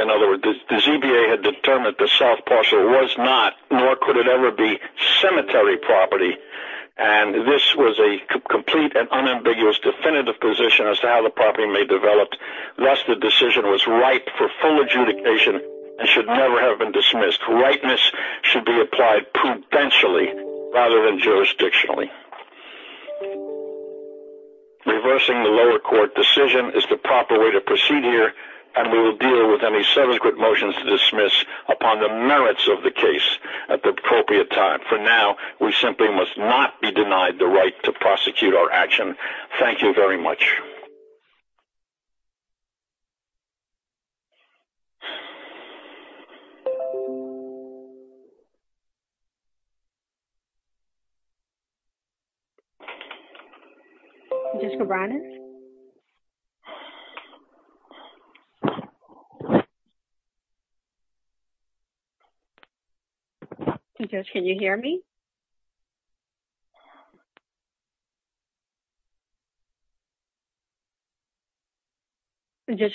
In other words, the ZBA had determined that the south parcel was not, nor could it ever be, cemetery property, and this was a complete and unambiguous definitive position as to how the property may develop. Thus, the decision was ripe for full adjudication and should never have been dismissed. Rightness should be applied prudentially rather than jurisdictionally. Reversing the lower court decision is the proper way to proceed here, and we will deal with any subsequent motions to dismiss upon the merits of the case at the appropriate time. For now, we simply must not be denied the right to prosecute our action. Thank you very much. Judge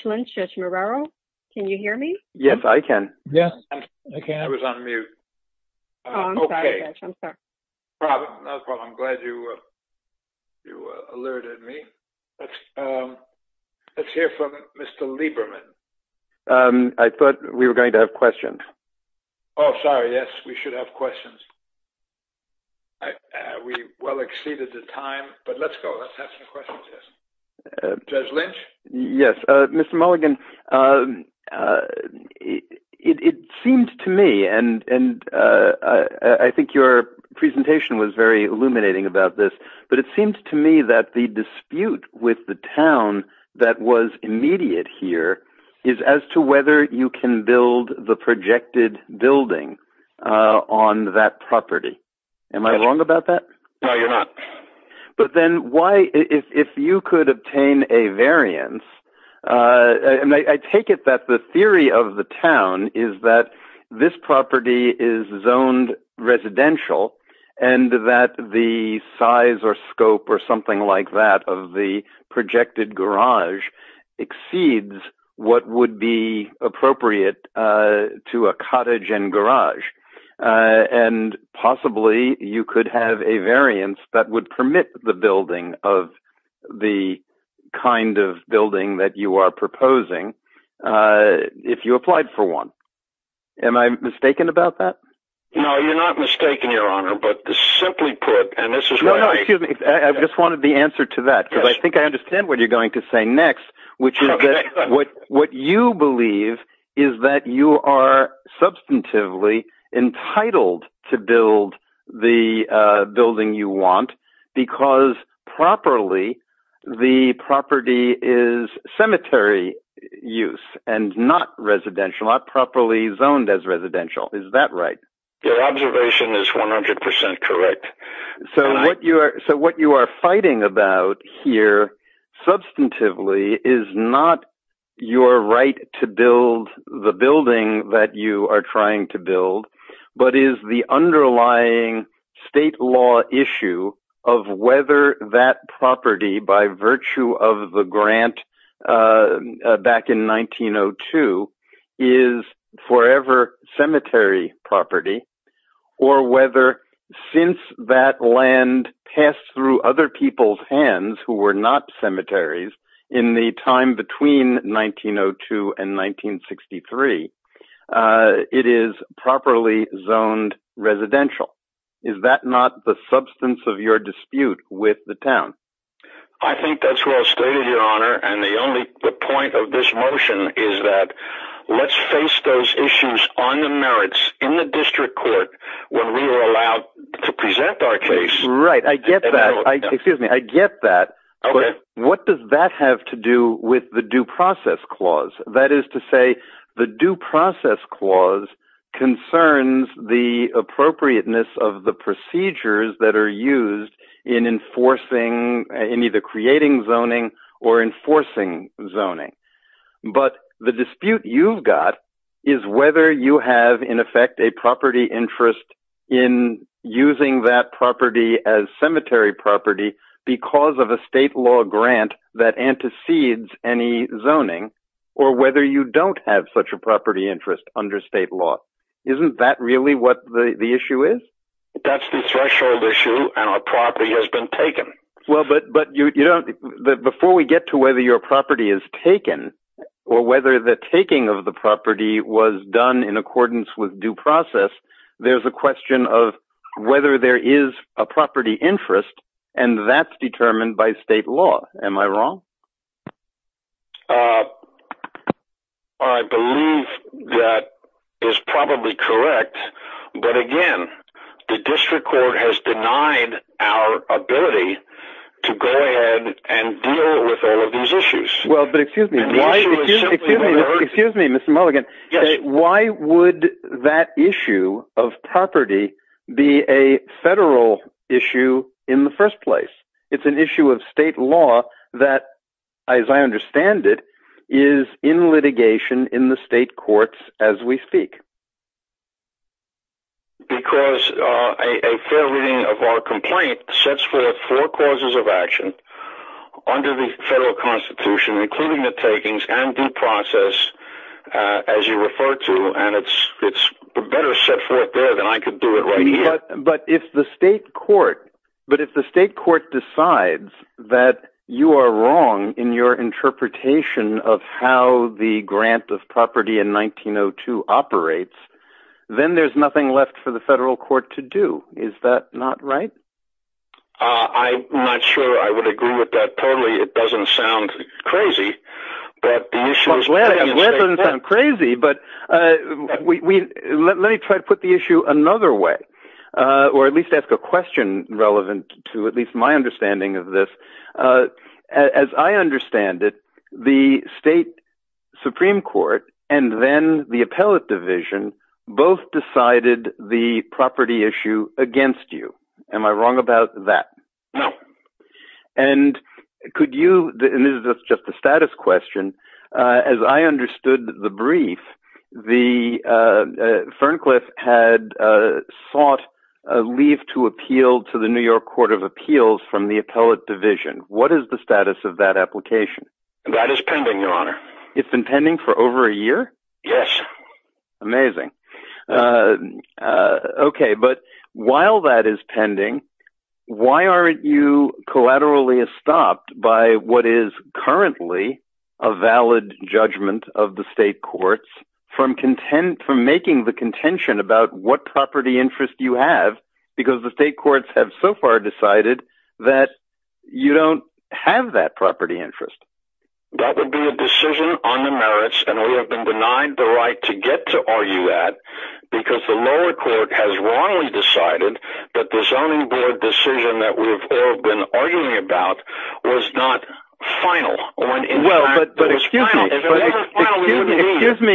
Lynch, Judge Marrero, can you hear me? Yes, I can. Yes, I can. I was on mute. Oh, I'm sorry, Judge. I'm sorry. No problem. I'm glad you alerted me. Let's hear from Mr. Lieberman. I thought we were going to have questions. Oh, sorry. Yes, we should have questions. We well exceeded the time, but let's go. Let's have some questions. Judge Lynch? Yes, Mr. Mulligan, it seems to me, and I think your presentation was very illuminating about this, but it seems to me that the dispute with the town that was immediate here is as to whether you can build the projected building on that property. Am I wrong about that? No, you're not. But then why, if you could obtain a variance, and I take it that the theory of the town is that this property is zoned residential and that the size or scope or something like that of the projected garage exceeds what would be appropriate to a cottage and garage, and possibly you could have a variance that would permit the building of the kind of building that you are proposing if you applied for one. Am I mistaken about that? No, you're not mistaken, Your Honor, but to simply put, and this is why I— No, no, excuse me. I just wanted the answer to that, because I think I understand what you're going to say next, which is that what you believe is that you are substantively entitled to build the building you want because properly the property is cemetery use and not residential, not properly zoned as residential. Is that right? Your observation is 100% correct. So what you are fighting about here substantively is not your right to build the building that you are trying to build, but is the underlying state law issue of whether that property, by virtue of the grant back in 1902, is forever cemetery property or whether since that land passed through other people's hands who were not cemeteries in the time between 1902 and 1963 it is properly zoned residential. Is that not the substance of your dispute with the town? I think that's well stated, Your Honor, and the point of this motion is that let's face those issues on the merits in the district court when we are allowed to present our case. Right. I get that. Excuse me. I get that. Okay. But what does that have to do with the Due Process Clause? That is to say, the Due Process Clause concerns the appropriateness of the procedures that are used in enforcing, in either creating zoning or enforcing zoning. But the dispute you've got is whether you have, in effect, a property interest in using that property as cemetery property because of a state law grant that antecedes any zoning or whether you don't have such a property interest under state law. Isn't that really what the issue is? That's the threshold issue and our property has been taken. Well, but before we get to whether your property is taken or whether the taking of the property was done in accordance with due process, there's a question of whether there is a property interest and that's determined by state law. Am I wrong? I believe that is probably correct. But again, the district court has denied our ability to go ahead and deal with all of these issues. Well, but excuse me. Excuse me, Mr. Mulligan. Yes. Why would that issue of property be a federal issue in the first place? It's an issue of as I understand it, is in litigation in the state courts as we speak. Because a fair reading of our complaint sets forth four causes of action under the federal constitution, including the takings and due process, as you refer to, and it's better set forth there than I could do it right here. But if the state court decides that you are wrong in your interpretation of how the grant of property in 1902 operates, then there's nothing left for the federal court to do. Is that not right? I'm not sure I would agree with that totally. It doesn't sound crazy. I'm glad it doesn't sound crazy, but let me try to put the issue another way, or at least ask a question relevant to at least my understanding of this. As I understand it, the state supreme court and then the appellate division both decided the property issue against you. Am I wrong about that? No. And could you, and this is just a status question, as I understood the brief, Ferncliff had sought a leave to appeal to the New York court of appeals from the appellate division. What is the status of that application? That is pending, your honor. It's been pending for over a year? Yes. Amazing. Okay, but while that is pending, why aren't you collaterally stopped by what is currently a valid judgment of the state courts from making the contention about what property interest you have, because the state courts have so far decided that you don't have that property interest? That would be a decision on the merits, and we have been denied the right to get to argue that, because the lower court has wrongly decided that the zoning board decision that we've all been arguing about was not final. Well, but excuse me.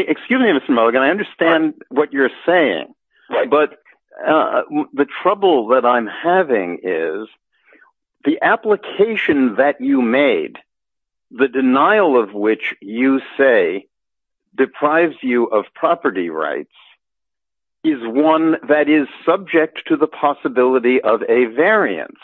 Excuse me, Mr. Mulligan, I understand what you're saying, but the trouble that I'm having is the application that you made, the denial of which you say deprives you of property rights, is one that is subject to the possibility of a variance.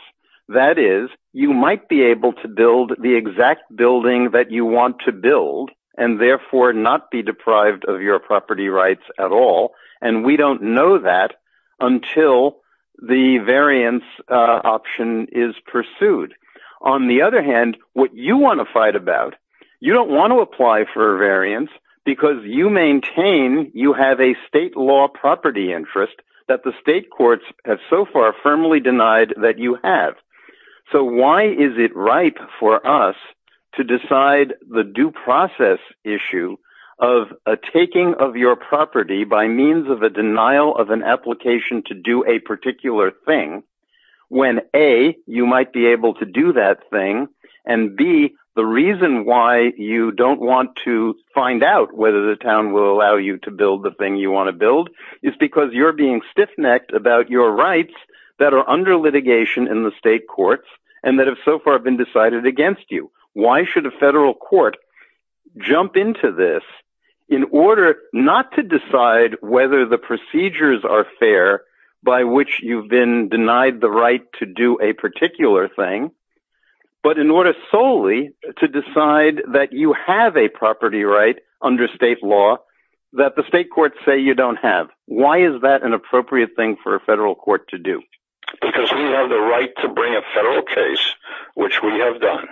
That is, you might be able to build the exact building that you want to build, and therefore not be deprived of your property rights at all, and we don't know that until the variance option is pursued. On the other hand, what you want to fight about, you don't want to apply for a variance, because you maintain you have a state law property interest that the state courts have so far firmly denied that you have. So why is it ripe for us to of a taking of your property by means of a denial of an application to do a particular thing, when A, you might be able to do that thing, and B, the reason why you don't want to find out whether the town will allow you to build the thing you want to build is because you're being stiff-necked about your rights that are under litigation in the state courts and that have so far been decided against you. Why should a federal court jump into this in order not to decide whether the procedures are fair by which you've been denied the right to do a particular thing, but in order solely to decide that you have a property right under state law that the state courts say you don't have? Why is that an appropriate thing for a federal court to do? Because we have the right to bring a federal case, which we have done.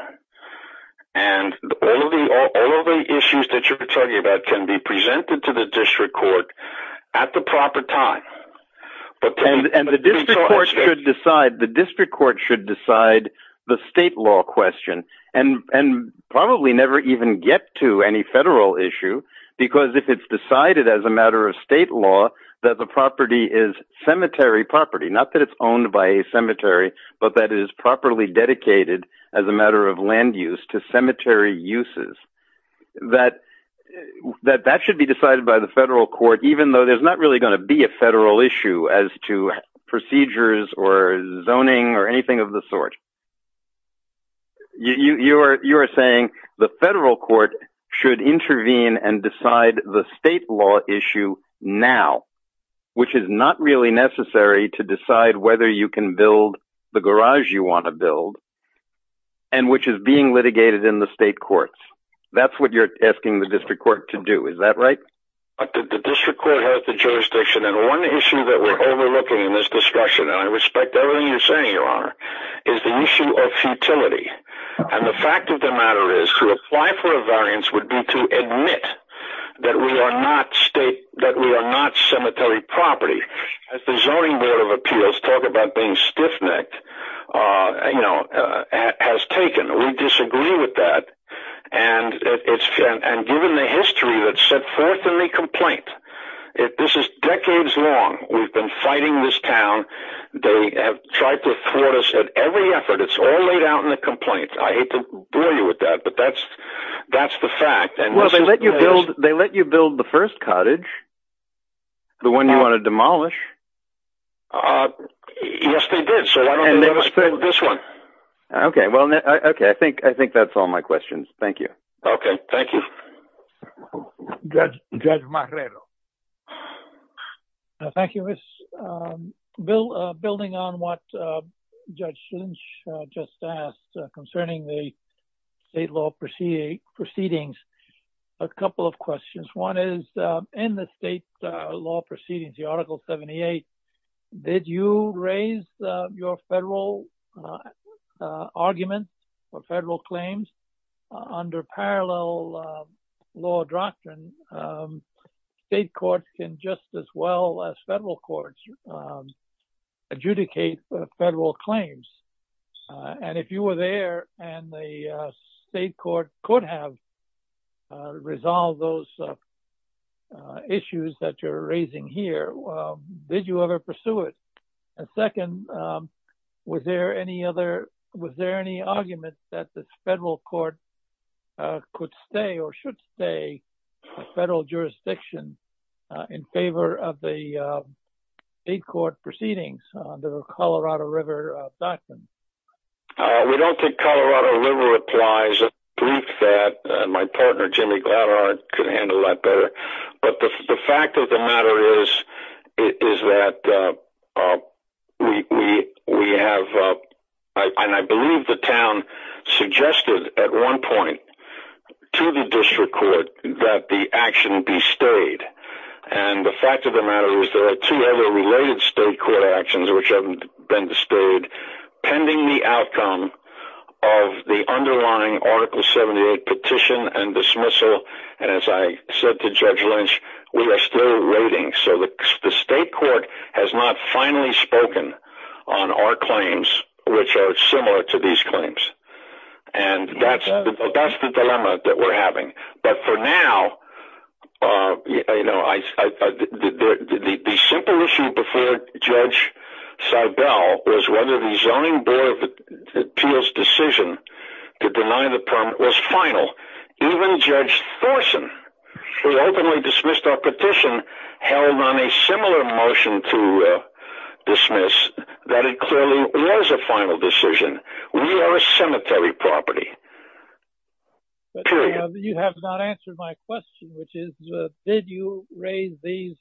And all of the issues that you're talking about can be presented to the district court at the proper time. And the district court should decide the state law question, and probably never even get to any federal issue, because if it's decided as a matter of state law that the property is cemetery property, not that it's owned by a cemetery, but that it is properly dedicated as a matter of land use to cemetery uses, that should be decided by the federal court even though there's not really going to be a federal issue as to procedures or zoning or anything of the sort. You are saying the federal court should intervene and decide the state law issue now, which is not really necessary to decide whether you can build the garage you want to build, and which is being litigated in the state courts. That's what you're asking the district court to do. Is that right? The district court has the jurisdiction, and one issue that we're overlooking in this discussion, and I respect everything you're saying, Your Honor, is the issue of futility. And the fact of the matter is, to apply for a variance would be to admit that we are not cemetery property. As the Zoning Board of Appeals talk about being stiff-necked, has taken. We disagree with that, and given the history that's set forth in the complaint, this is decades long. We've been fighting this town. They have tried to thwart us at every effort. It's all laid out in the complaint. I hate to bore you with that, but that's the fact. Well, they let you build the first cottage, the one you want to demolish. Yes, they did. So why don't they let us build this one? Okay. I think that's all my questions. Thank you. Okay. Thank you. Judge Marrero. Thank you, Miss. Building on what Judge Lynch just asked concerning the state law proceedings, a couple of questions. One is, in the state law proceedings, the Article 78, did you raise your federal arguments or federal claims under parallel law doctrine? State courts can just as well as federal courts adjudicate federal claims. And if you were there and the state court could have resolved those issues that you're raising here, did you ever pursue it? And second, was there any other, was there any argument that the federal court could stay or should stay in federal jurisdiction in favor of the state court proceedings under the Colorado River Doctrine? We don't think Colorado River applies. I believe that my partner, Jimmy Gladart, could handle that better. But the fact of the matter is that we have, and I believe the town suggested at one point to the district court that the action be stayed. And the fact of the matter is there are two Colorado River-related state court actions which have been displayed pending the outcome of the underlying Article 78 petition and dismissal. And as I said to Judge Lynch, we are still waiting. So the state court has not finally spoken on our claims, which are similar to The issue before Judge Seibel was whether the Zoning Board of Appeals decision to deny the permit was final. Even Judge Thorsen, who openly dismissed our petition, held on a similar motion to dismiss that it clearly was a final decision. We are a cemetery property. You have not answered my question, which is, did you raise these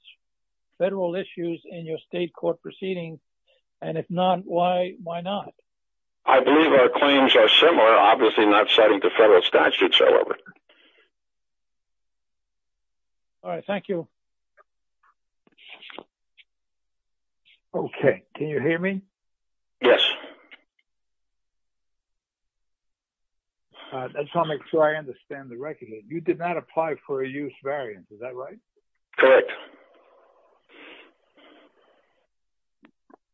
federal issues in your state court proceedings? And if not, why not? I believe our claims are similar, obviously not citing the federal statutes, however. All right. Thank you. Okay. Can you hear me? Yes. That's how I make sure I understand the record. You did not apply for a use variance. Is that right? Correct.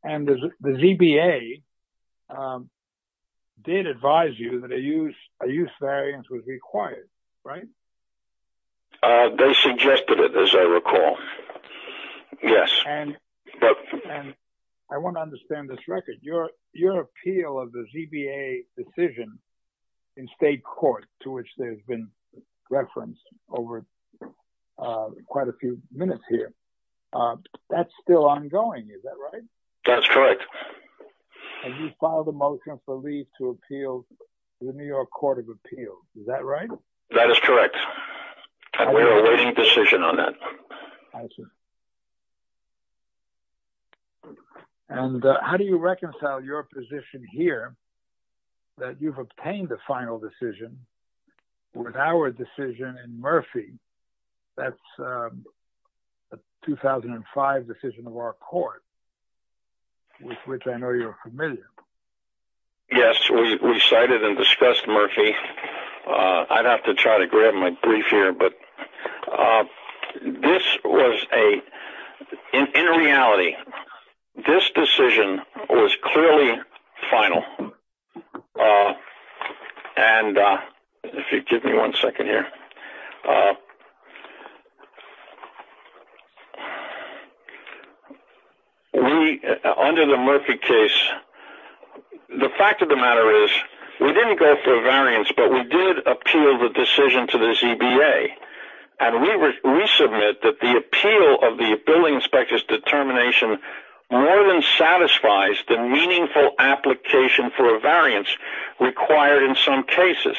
And the ZBA did advise you that a use variance was required, right? They suggested it, as I recall. Yes. And I want to understand this record. Your appeal of the ZBA decision in state court, to which there's been reference over quite a few minutes here, that's still ongoing. Is that right? That's correct. And you filed a motion for leave to appeal the New York Court of Appeals. Is that right? That is correct. And we are awaiting decision on that. I see. And how do you reconcile your position here, that you've obtained the final decision, with our decision in Murphy, that's a 2005 decision of our court, with which I know you're familiar. Yes, we cited and discussed Murphy. I'd have to try to grab my brief here, but this was a, in reality, this decision was clearly final. And if you give me one second here. We, under the Murphy case, the fact of the matter is, we didn't go for a variance, but we did appeal the decision to the ZBA. And we submit that the appeal of the building inspector's determination more than satisfies the meaningful application for a variance required in some cases.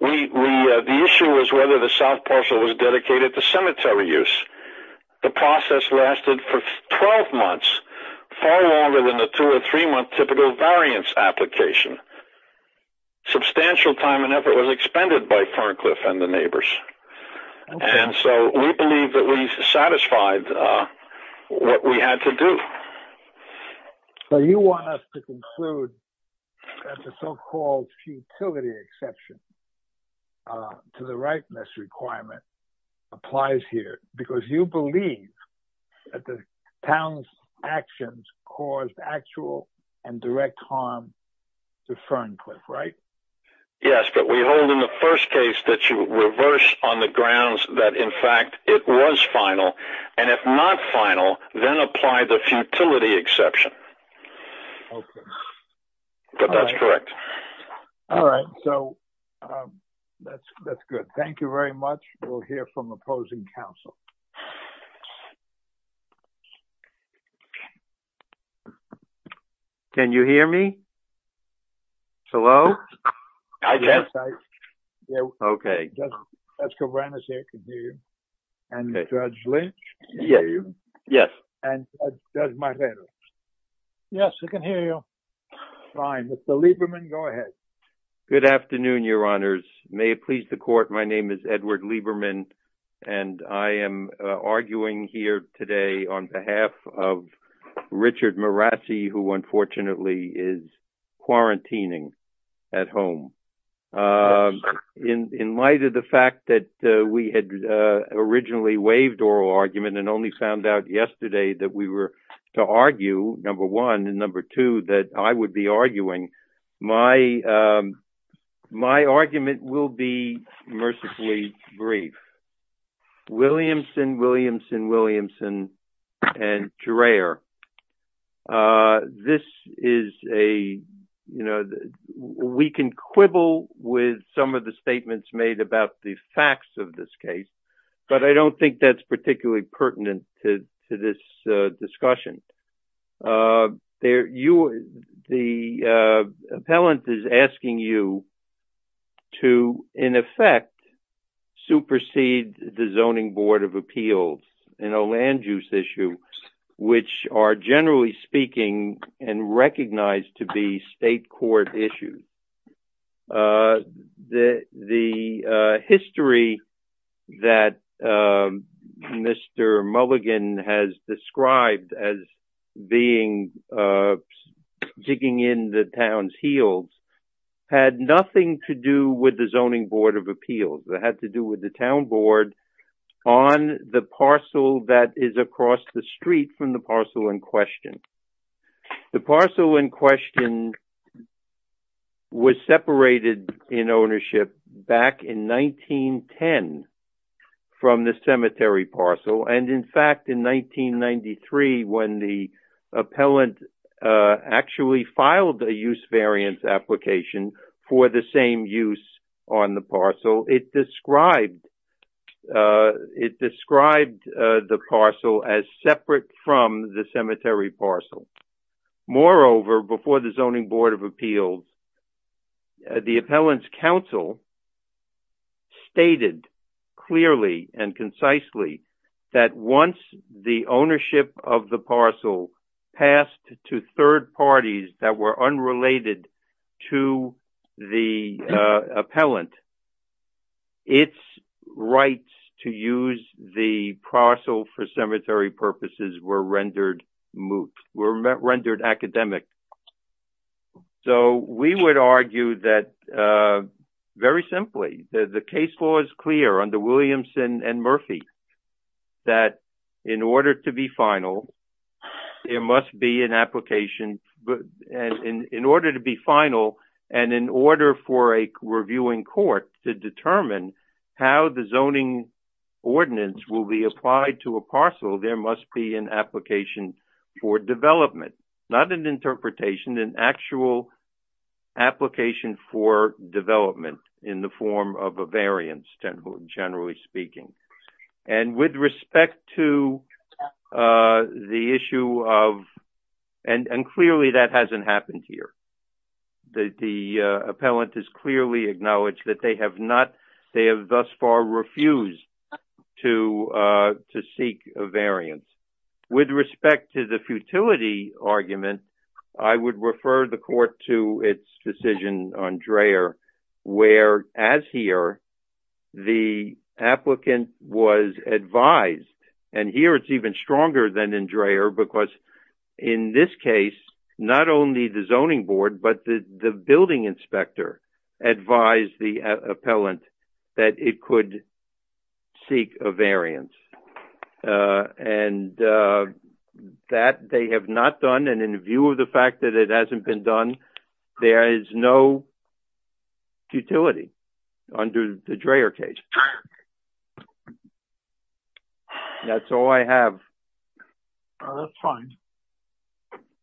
The issue was whether the south parcel was dedicated to cemetery use. The process lasted for 12 months, far longer than the two- or three-month typical variance application. Substantial time and effort was expended by Farncliffe and the neighbors. And so we believe that we satisfied what we had to do. So you want us to conclude that the so-called futility exception to the rightness requirement applies here, because you believe that the town's actions caused actual and direct harm to Farncliffe, right? Yes, but we hold in the first case that you reverse on the grounds that, in fact, it was final. And if not final, then apply the futility exception. Okay. But that's correct. All right, so that's good. Thank you very much. We'll hear from opposing counsel. Can you hear me? Hello? I can. Okay. Judge Cabrera can hear you. And Judge Lynch can hear you. Yes. And Judge Marrero. Yes, I can hear you. Fine. Mr. Lieberman, go ahead. Good afternoon, Your Honors. May it please the Court, my name is Edward Lieberman, and I am arguing here today on behalf of Richard Marazzi, who unfortunately is quarantining at home. In light of the fact that we had originally waived oral argument and only found out yesterday that we were to argue, number one, and number two, that I would be arguing, my argument will be mercifully brief. Williamson, Williamson, Williamson, and Gerrer. This is a, you know, we can quibble with some of the statements made about the facts of this case, but I don't think that's particularly pertinent to this discussion. The appellant is asking you to, in effect, supersede the Zoning Board of Appeals in a land use issue, which are generally speaking and recognized to be state court issues. The history that Mr. Mulligan has described as being digging in the town's heels had nothing to do with the Zoning Board of Appeals. It had to do with the town board on the parcel that is across the street from the parcel in question. The parcel in question was separated in ownership back in 1910 from the cemetery parcel, and in fact, in 1993, when the appellant actually filed a use variance application for the same use on the parcel, it described the parcel as separate from the cemetery parcel. Moreover, before the Zoning Board of Appeals, the appellant's counsel stated clearly and concisely that once the ownership of the parcel passed to third parties that were unrelated to the appellant, its rights to use the parcel for cemetery purposes were rendered academic. We would argue that, very simply, the case law is clear under Williamson and Murphy that in order to be final, in order to be final, and in order for a reviewing court to determine how the zoning ordinance will be applied to a parcel, there must be an application for development. Not an interpretation, an actual application for development in the form of a variance, generally speaking. And with respect to the issue of, and clearly that hasn't happened here. The appellant has clearly acknowledged that they have not, they have thus far refused to seek a variance. With respect to the futility argument, I would refer the court to its decision on Dreher, where, as here, the applicant was advised, and here it's even stronger than in Dreher, because in this case, not only the zoning board, but the building inspector advised the appellant that it could seek a variance. And that they have not done, and in view of the fact that it hasn't been done, there is no futility under the Dreher case. That's all I have. That's fine.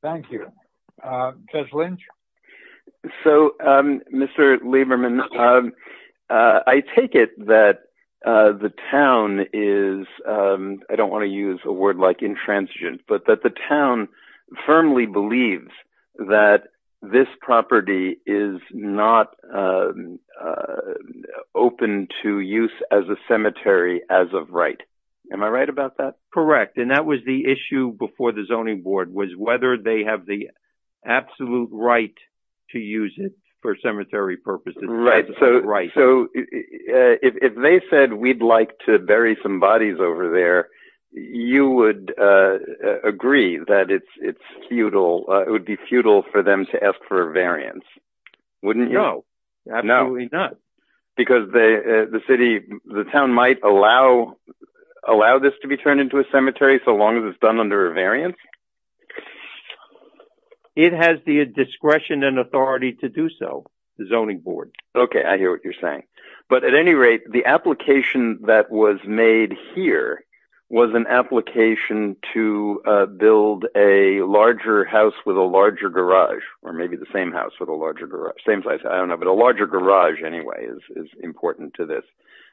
Thank you. Judge Lynch? So, Mr. Lieberman, I take it that the town is, I don't want to use a word like intransigent, but that the town firmly believes that this property is not open to use as a cemetery as of right. Am I right about that? Correct. And that was the issue before the zoning board, was whether they have the absolute right to use it for cemetery purposes. Right. So, if they said we'd like to bury some bodies over there, you would agree that it's futile, it would be futile for them to ask for a variance, wouldn't you? No, absolutely not. Because the town might allow this to be turned into a cemetery so long as it's done under a variance? It has the discretion and authority to do so, the zoning board. Okay, I hear what you're saying. But at any rate, the application that was made here was an application to build a larger house with a larger garage, or maybe the same house with a larger garage. I don't know, but a larger garage anyway is important to this.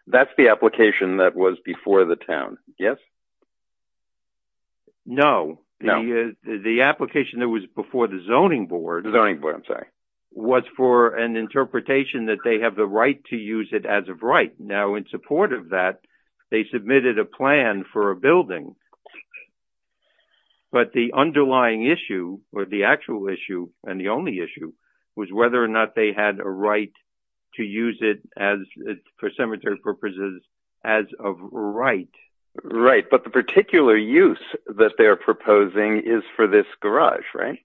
That's the application that was before the town. Yes? No. The application that was before the zoning board was for an interpretation that they have the right to use it as of right. Now, in support of that, they submitted a plan for a building. But the underlying issue, or the actual issue, and the only issue, was whether or not they had a right to use it for cemetery purposes as of right. Right, but the particular use that they're proposing is for this garage, right?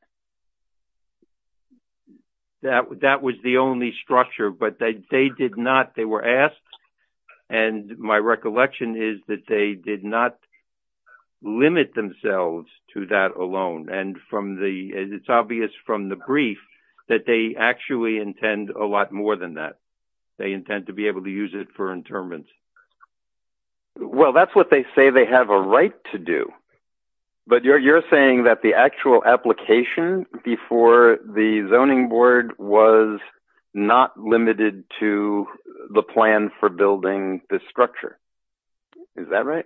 That was the only structure, but they were asked, and my recollection is that they did not limit themselves to that alone. And it's obvious from the brief that they actually intend a lot more than that. They intend to be able to use it for interments. Well, that's what they say they have a right to do. But you're saying that the actual application before the zoning board was not limited to the plan for building this structure. Is that right?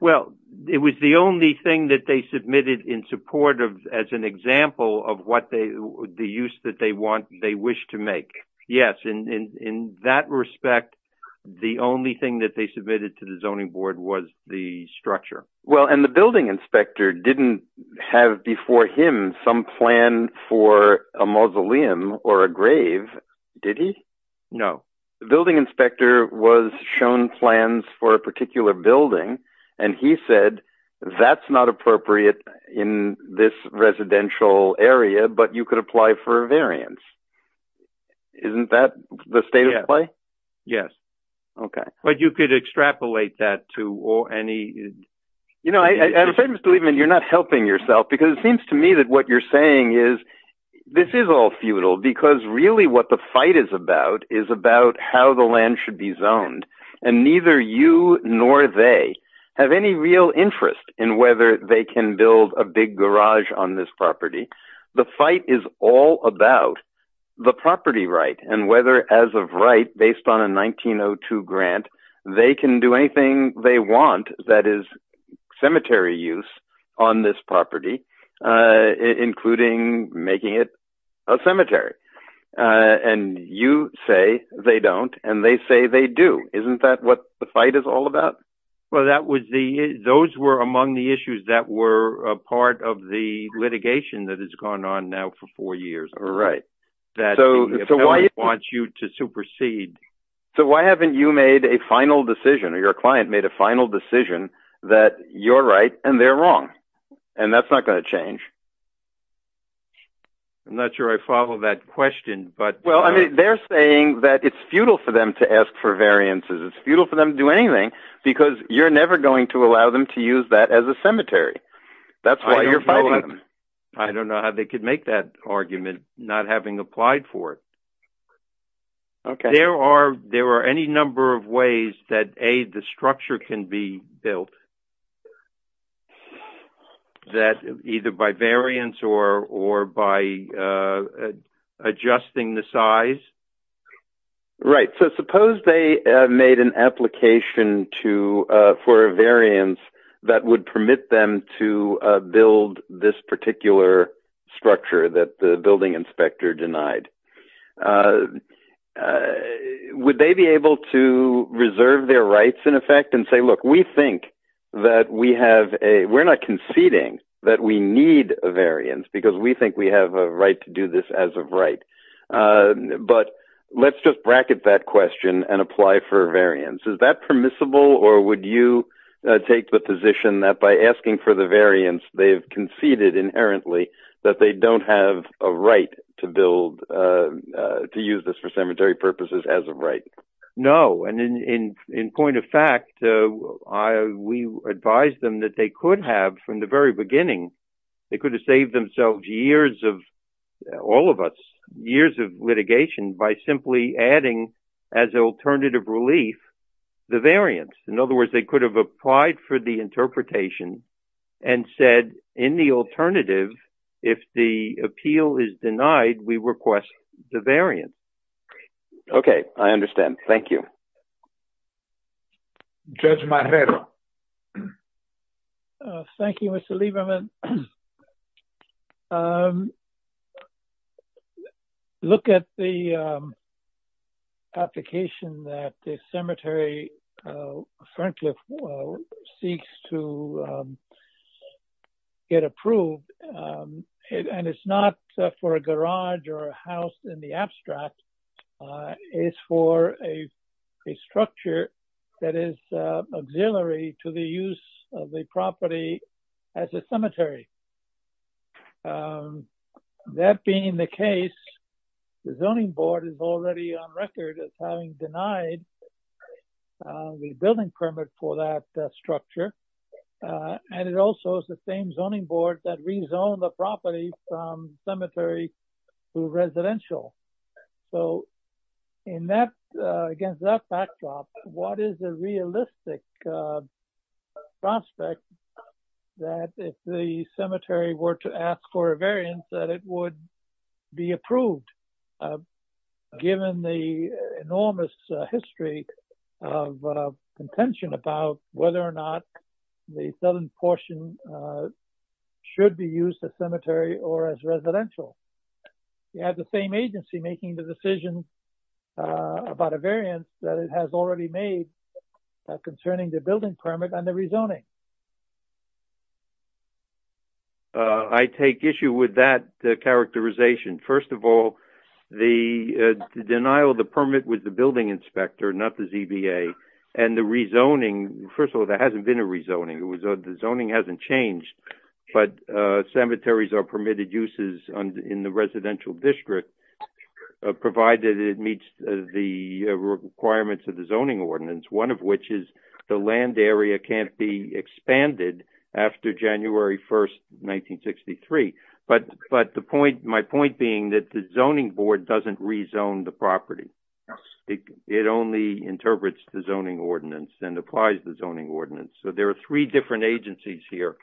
Well, it was the only thing that they submitted in support of, as an example of the use that they wish to make. Yes, in that respect, the only thing that they submitted to the zoning board was the structure. And the building inspector didn't have before him some plan for a mausoleum or a grave, did he? No. The building inspector was shown plans for a particular building, and he said, that's not appropriate in this residential area, but you could apply for a variance. Isn't that the state of play? Yes. But you could extrapolate that to any... You know, I have a certain belief that you're not helping yourself, because it seems to me that what you're saying is, this is all futile, because really what the fight is about is about how the land should be zoned. And neither you nor they have any real interest in whether they can build a big garage on this property. The fight is all about the property right, and whether as of right, based on a 1902 grant, they can do anything they want that is cemetery use on this property, including making it a cemetery. And you say they don't, and they say they do. Isn't that what the fight is all about? Well, those were among the issues that were a part of the litigation that has gone on now for four years. Right. That the appellant wants you to supersede. So why haven't you made a final decision, or your client made a final decision, that you're right and they're wrong? And that's not going to change? I'm not sure I follow that question, but... Well, I mean, they're saying that it's futile for them to ask for variances. It's futile for them to do anything, because you're never going to allow them to use that as a cemetery. That's why you're fighting them. I don't know how they could make that argument, not having applied for it. Okay. There are any number of ways that, A, the structure can be built, that either by variance or by adjusting the size. So suppose they made an application for a variance that would permit them to build this particular structure that the building inspector denied. Would they be able to reserve their rights, in effect, and say, look, we think that we have a... We're not conceding that we need a variance, because we think we have a right to do this as of right. But let's just bracket that question and apply for a variance. Is that permissible, or would you take the position that by asking for the variance, they've conceded inherently that they don't have a right to build, to use this for cemetery purposes as a right? No. And in point of fact, we advised them that they could have, from the very beginning, they could have saved themselves years of, all of us, years of litigation by simply adding, as an alternative relief, the variance. In other words, they could have applied for the interpretation and said, in the alternative, if the appeal is denied, we request the variance. Okay, I understand. Thank you. Judge Marrero. Thank you, Mr. Lieberman. Look at the application that the cemetery, frankly, seeks to get approved. And it's not for a garage or a house in the abstract. It's for a structure that is auxiliary to the use of the property as a cemetery. That being the case, the zoning board is already on record as having denied the building permit for that structure. And it also is the same zoning board that rezoned the property from cemetery to residential. So in that, against that backdrop, what is the realistic prospect that if the cemetery were to ask for a variance, that it would be approved, given the enormous history of contention about whether or not the southern portion should be used as cemetery or as residential? You have the same agency making the decision about a variance that it has already made concerning the building permit and the rezoning. I take issue with that characterization. First of all, the denial of the permit with the building inspector, not the ZBA, and the rezoning, first of all, there hasn't been a rezoning. The zoning hasn't changed, but cemeteries are permitted uses in the residential district, provided it meets the requirements of the zoning ordinance, one of which is the land area can't be expanded after January 1st, 1963. But my point being that the zoning board doesn't rezone the property. It only interprets the zoning ordinance and applies the zoning ordinance. So there are three different agencies here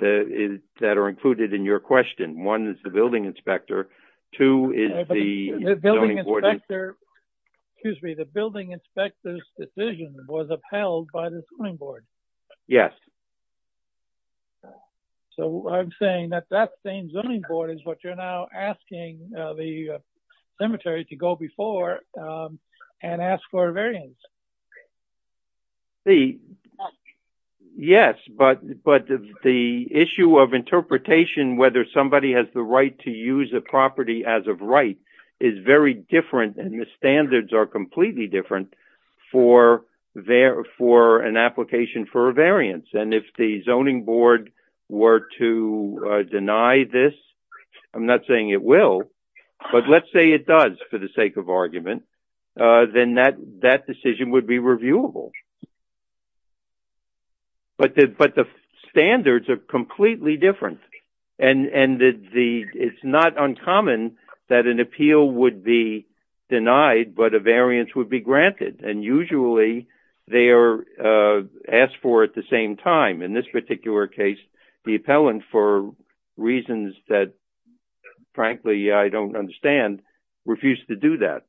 that are included in your question. One is the building inspector. Two is the zoning board. Excuse me, the building inspector's decision was upheld by the zoning board. Yes. So I'm saying that that same zoning board is what you're now asking the cemetery to go before and ask for a variance. Yes, but the issue of interpretation, whether somebody has the right to use a property as of right is very different, and the standards are completely different for an application for a variance. And if the zoning board were to deny this, I'm not saying it will, but let's say it does for the sake of argument, then that decision would be reviewable. But the standards are completely different. And it's not uncommon that an appeal would be denied, but a variance would be granted. And usually they are asked for at the same time. In this particular case, the appellant, for reasons that frankly I don't understand, refused to do that.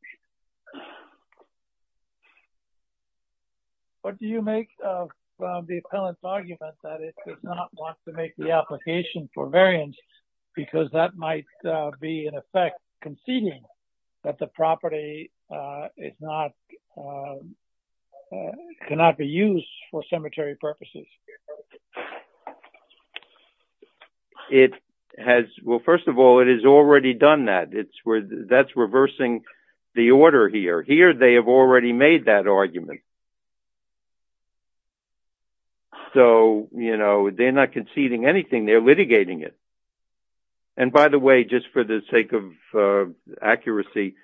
What do you make of the appellant's argument that it does not want to make the application for variance because that might be in effect conceding that the property is not, cannot be used for cemetery purposes? It has, well, first of all, it has already done that. That's reversing the order here. Here they have already made that argument. So, you know, they're not conceding anything. They're litigating it. And by the way, just for the sake of accuracy,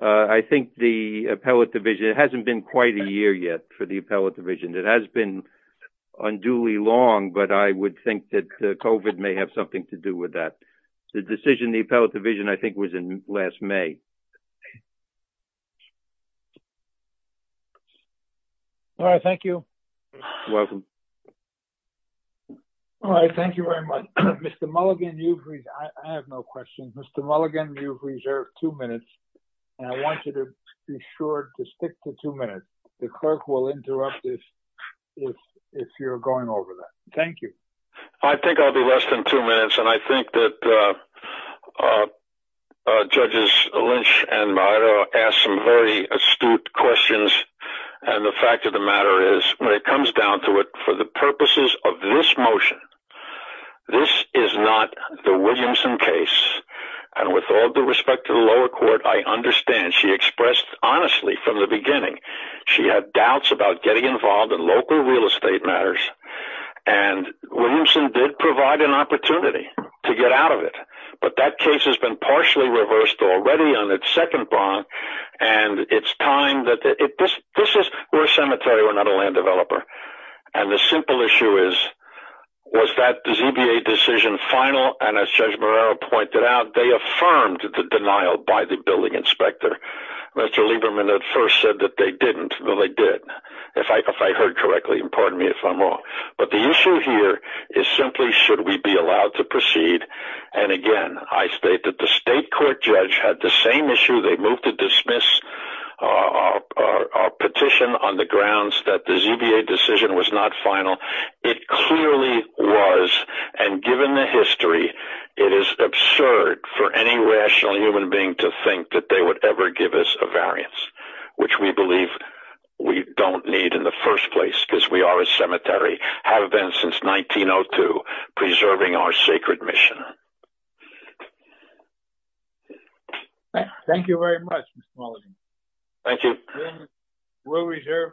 I think the appellate division, it hasn't been quite a year yet for the appellate division. It has been unduly long, but I would think that COVID may have something to do with that. The decision, the appellate division, I think was in last May. Thank you. All right, thank you. You're welcome. All right, thank you very much. Mr. Mulligan, I have no questions. Mr. Mulligan, you've reserved two minutes, and I want you to be sure to stick to two minutes. The clerk will interrupt if you're going over that. Thank you. I think I'll be less than two minutes, and then I'll finish, and I'll ask some very astute questions. And the fact of the matter is, when it comes down to it, for the purposes of this motion, this is not the Williamson case. And with all due respect to the lower court, I understand she expressed honestly from the beginning she had doubts about getting involved in local real estate matters. But it's second bond, and it's time. We're a cemetery, we're not a land developer. And the simple issue is, was that ZBA decision final? And as Judge Moreira pointed out, they affirmed the denial by the building inspector. Mr. Lieberman at first said that they didn't. Well, they did, if I heard correctly. And pardon me if I'm wrong. But that's not the issue. They moved to dismiss our petition on the grounds that the ZBA decision was not final. It clearly was. And given the history, it is absurd for any rational human being to think that they would ever give us a variance, which we believe we don't need in the first place, because we are a cemetery, have been since 1902, preserving our sacred mission. Thank you very much, Mr. Mulligan. Thank you.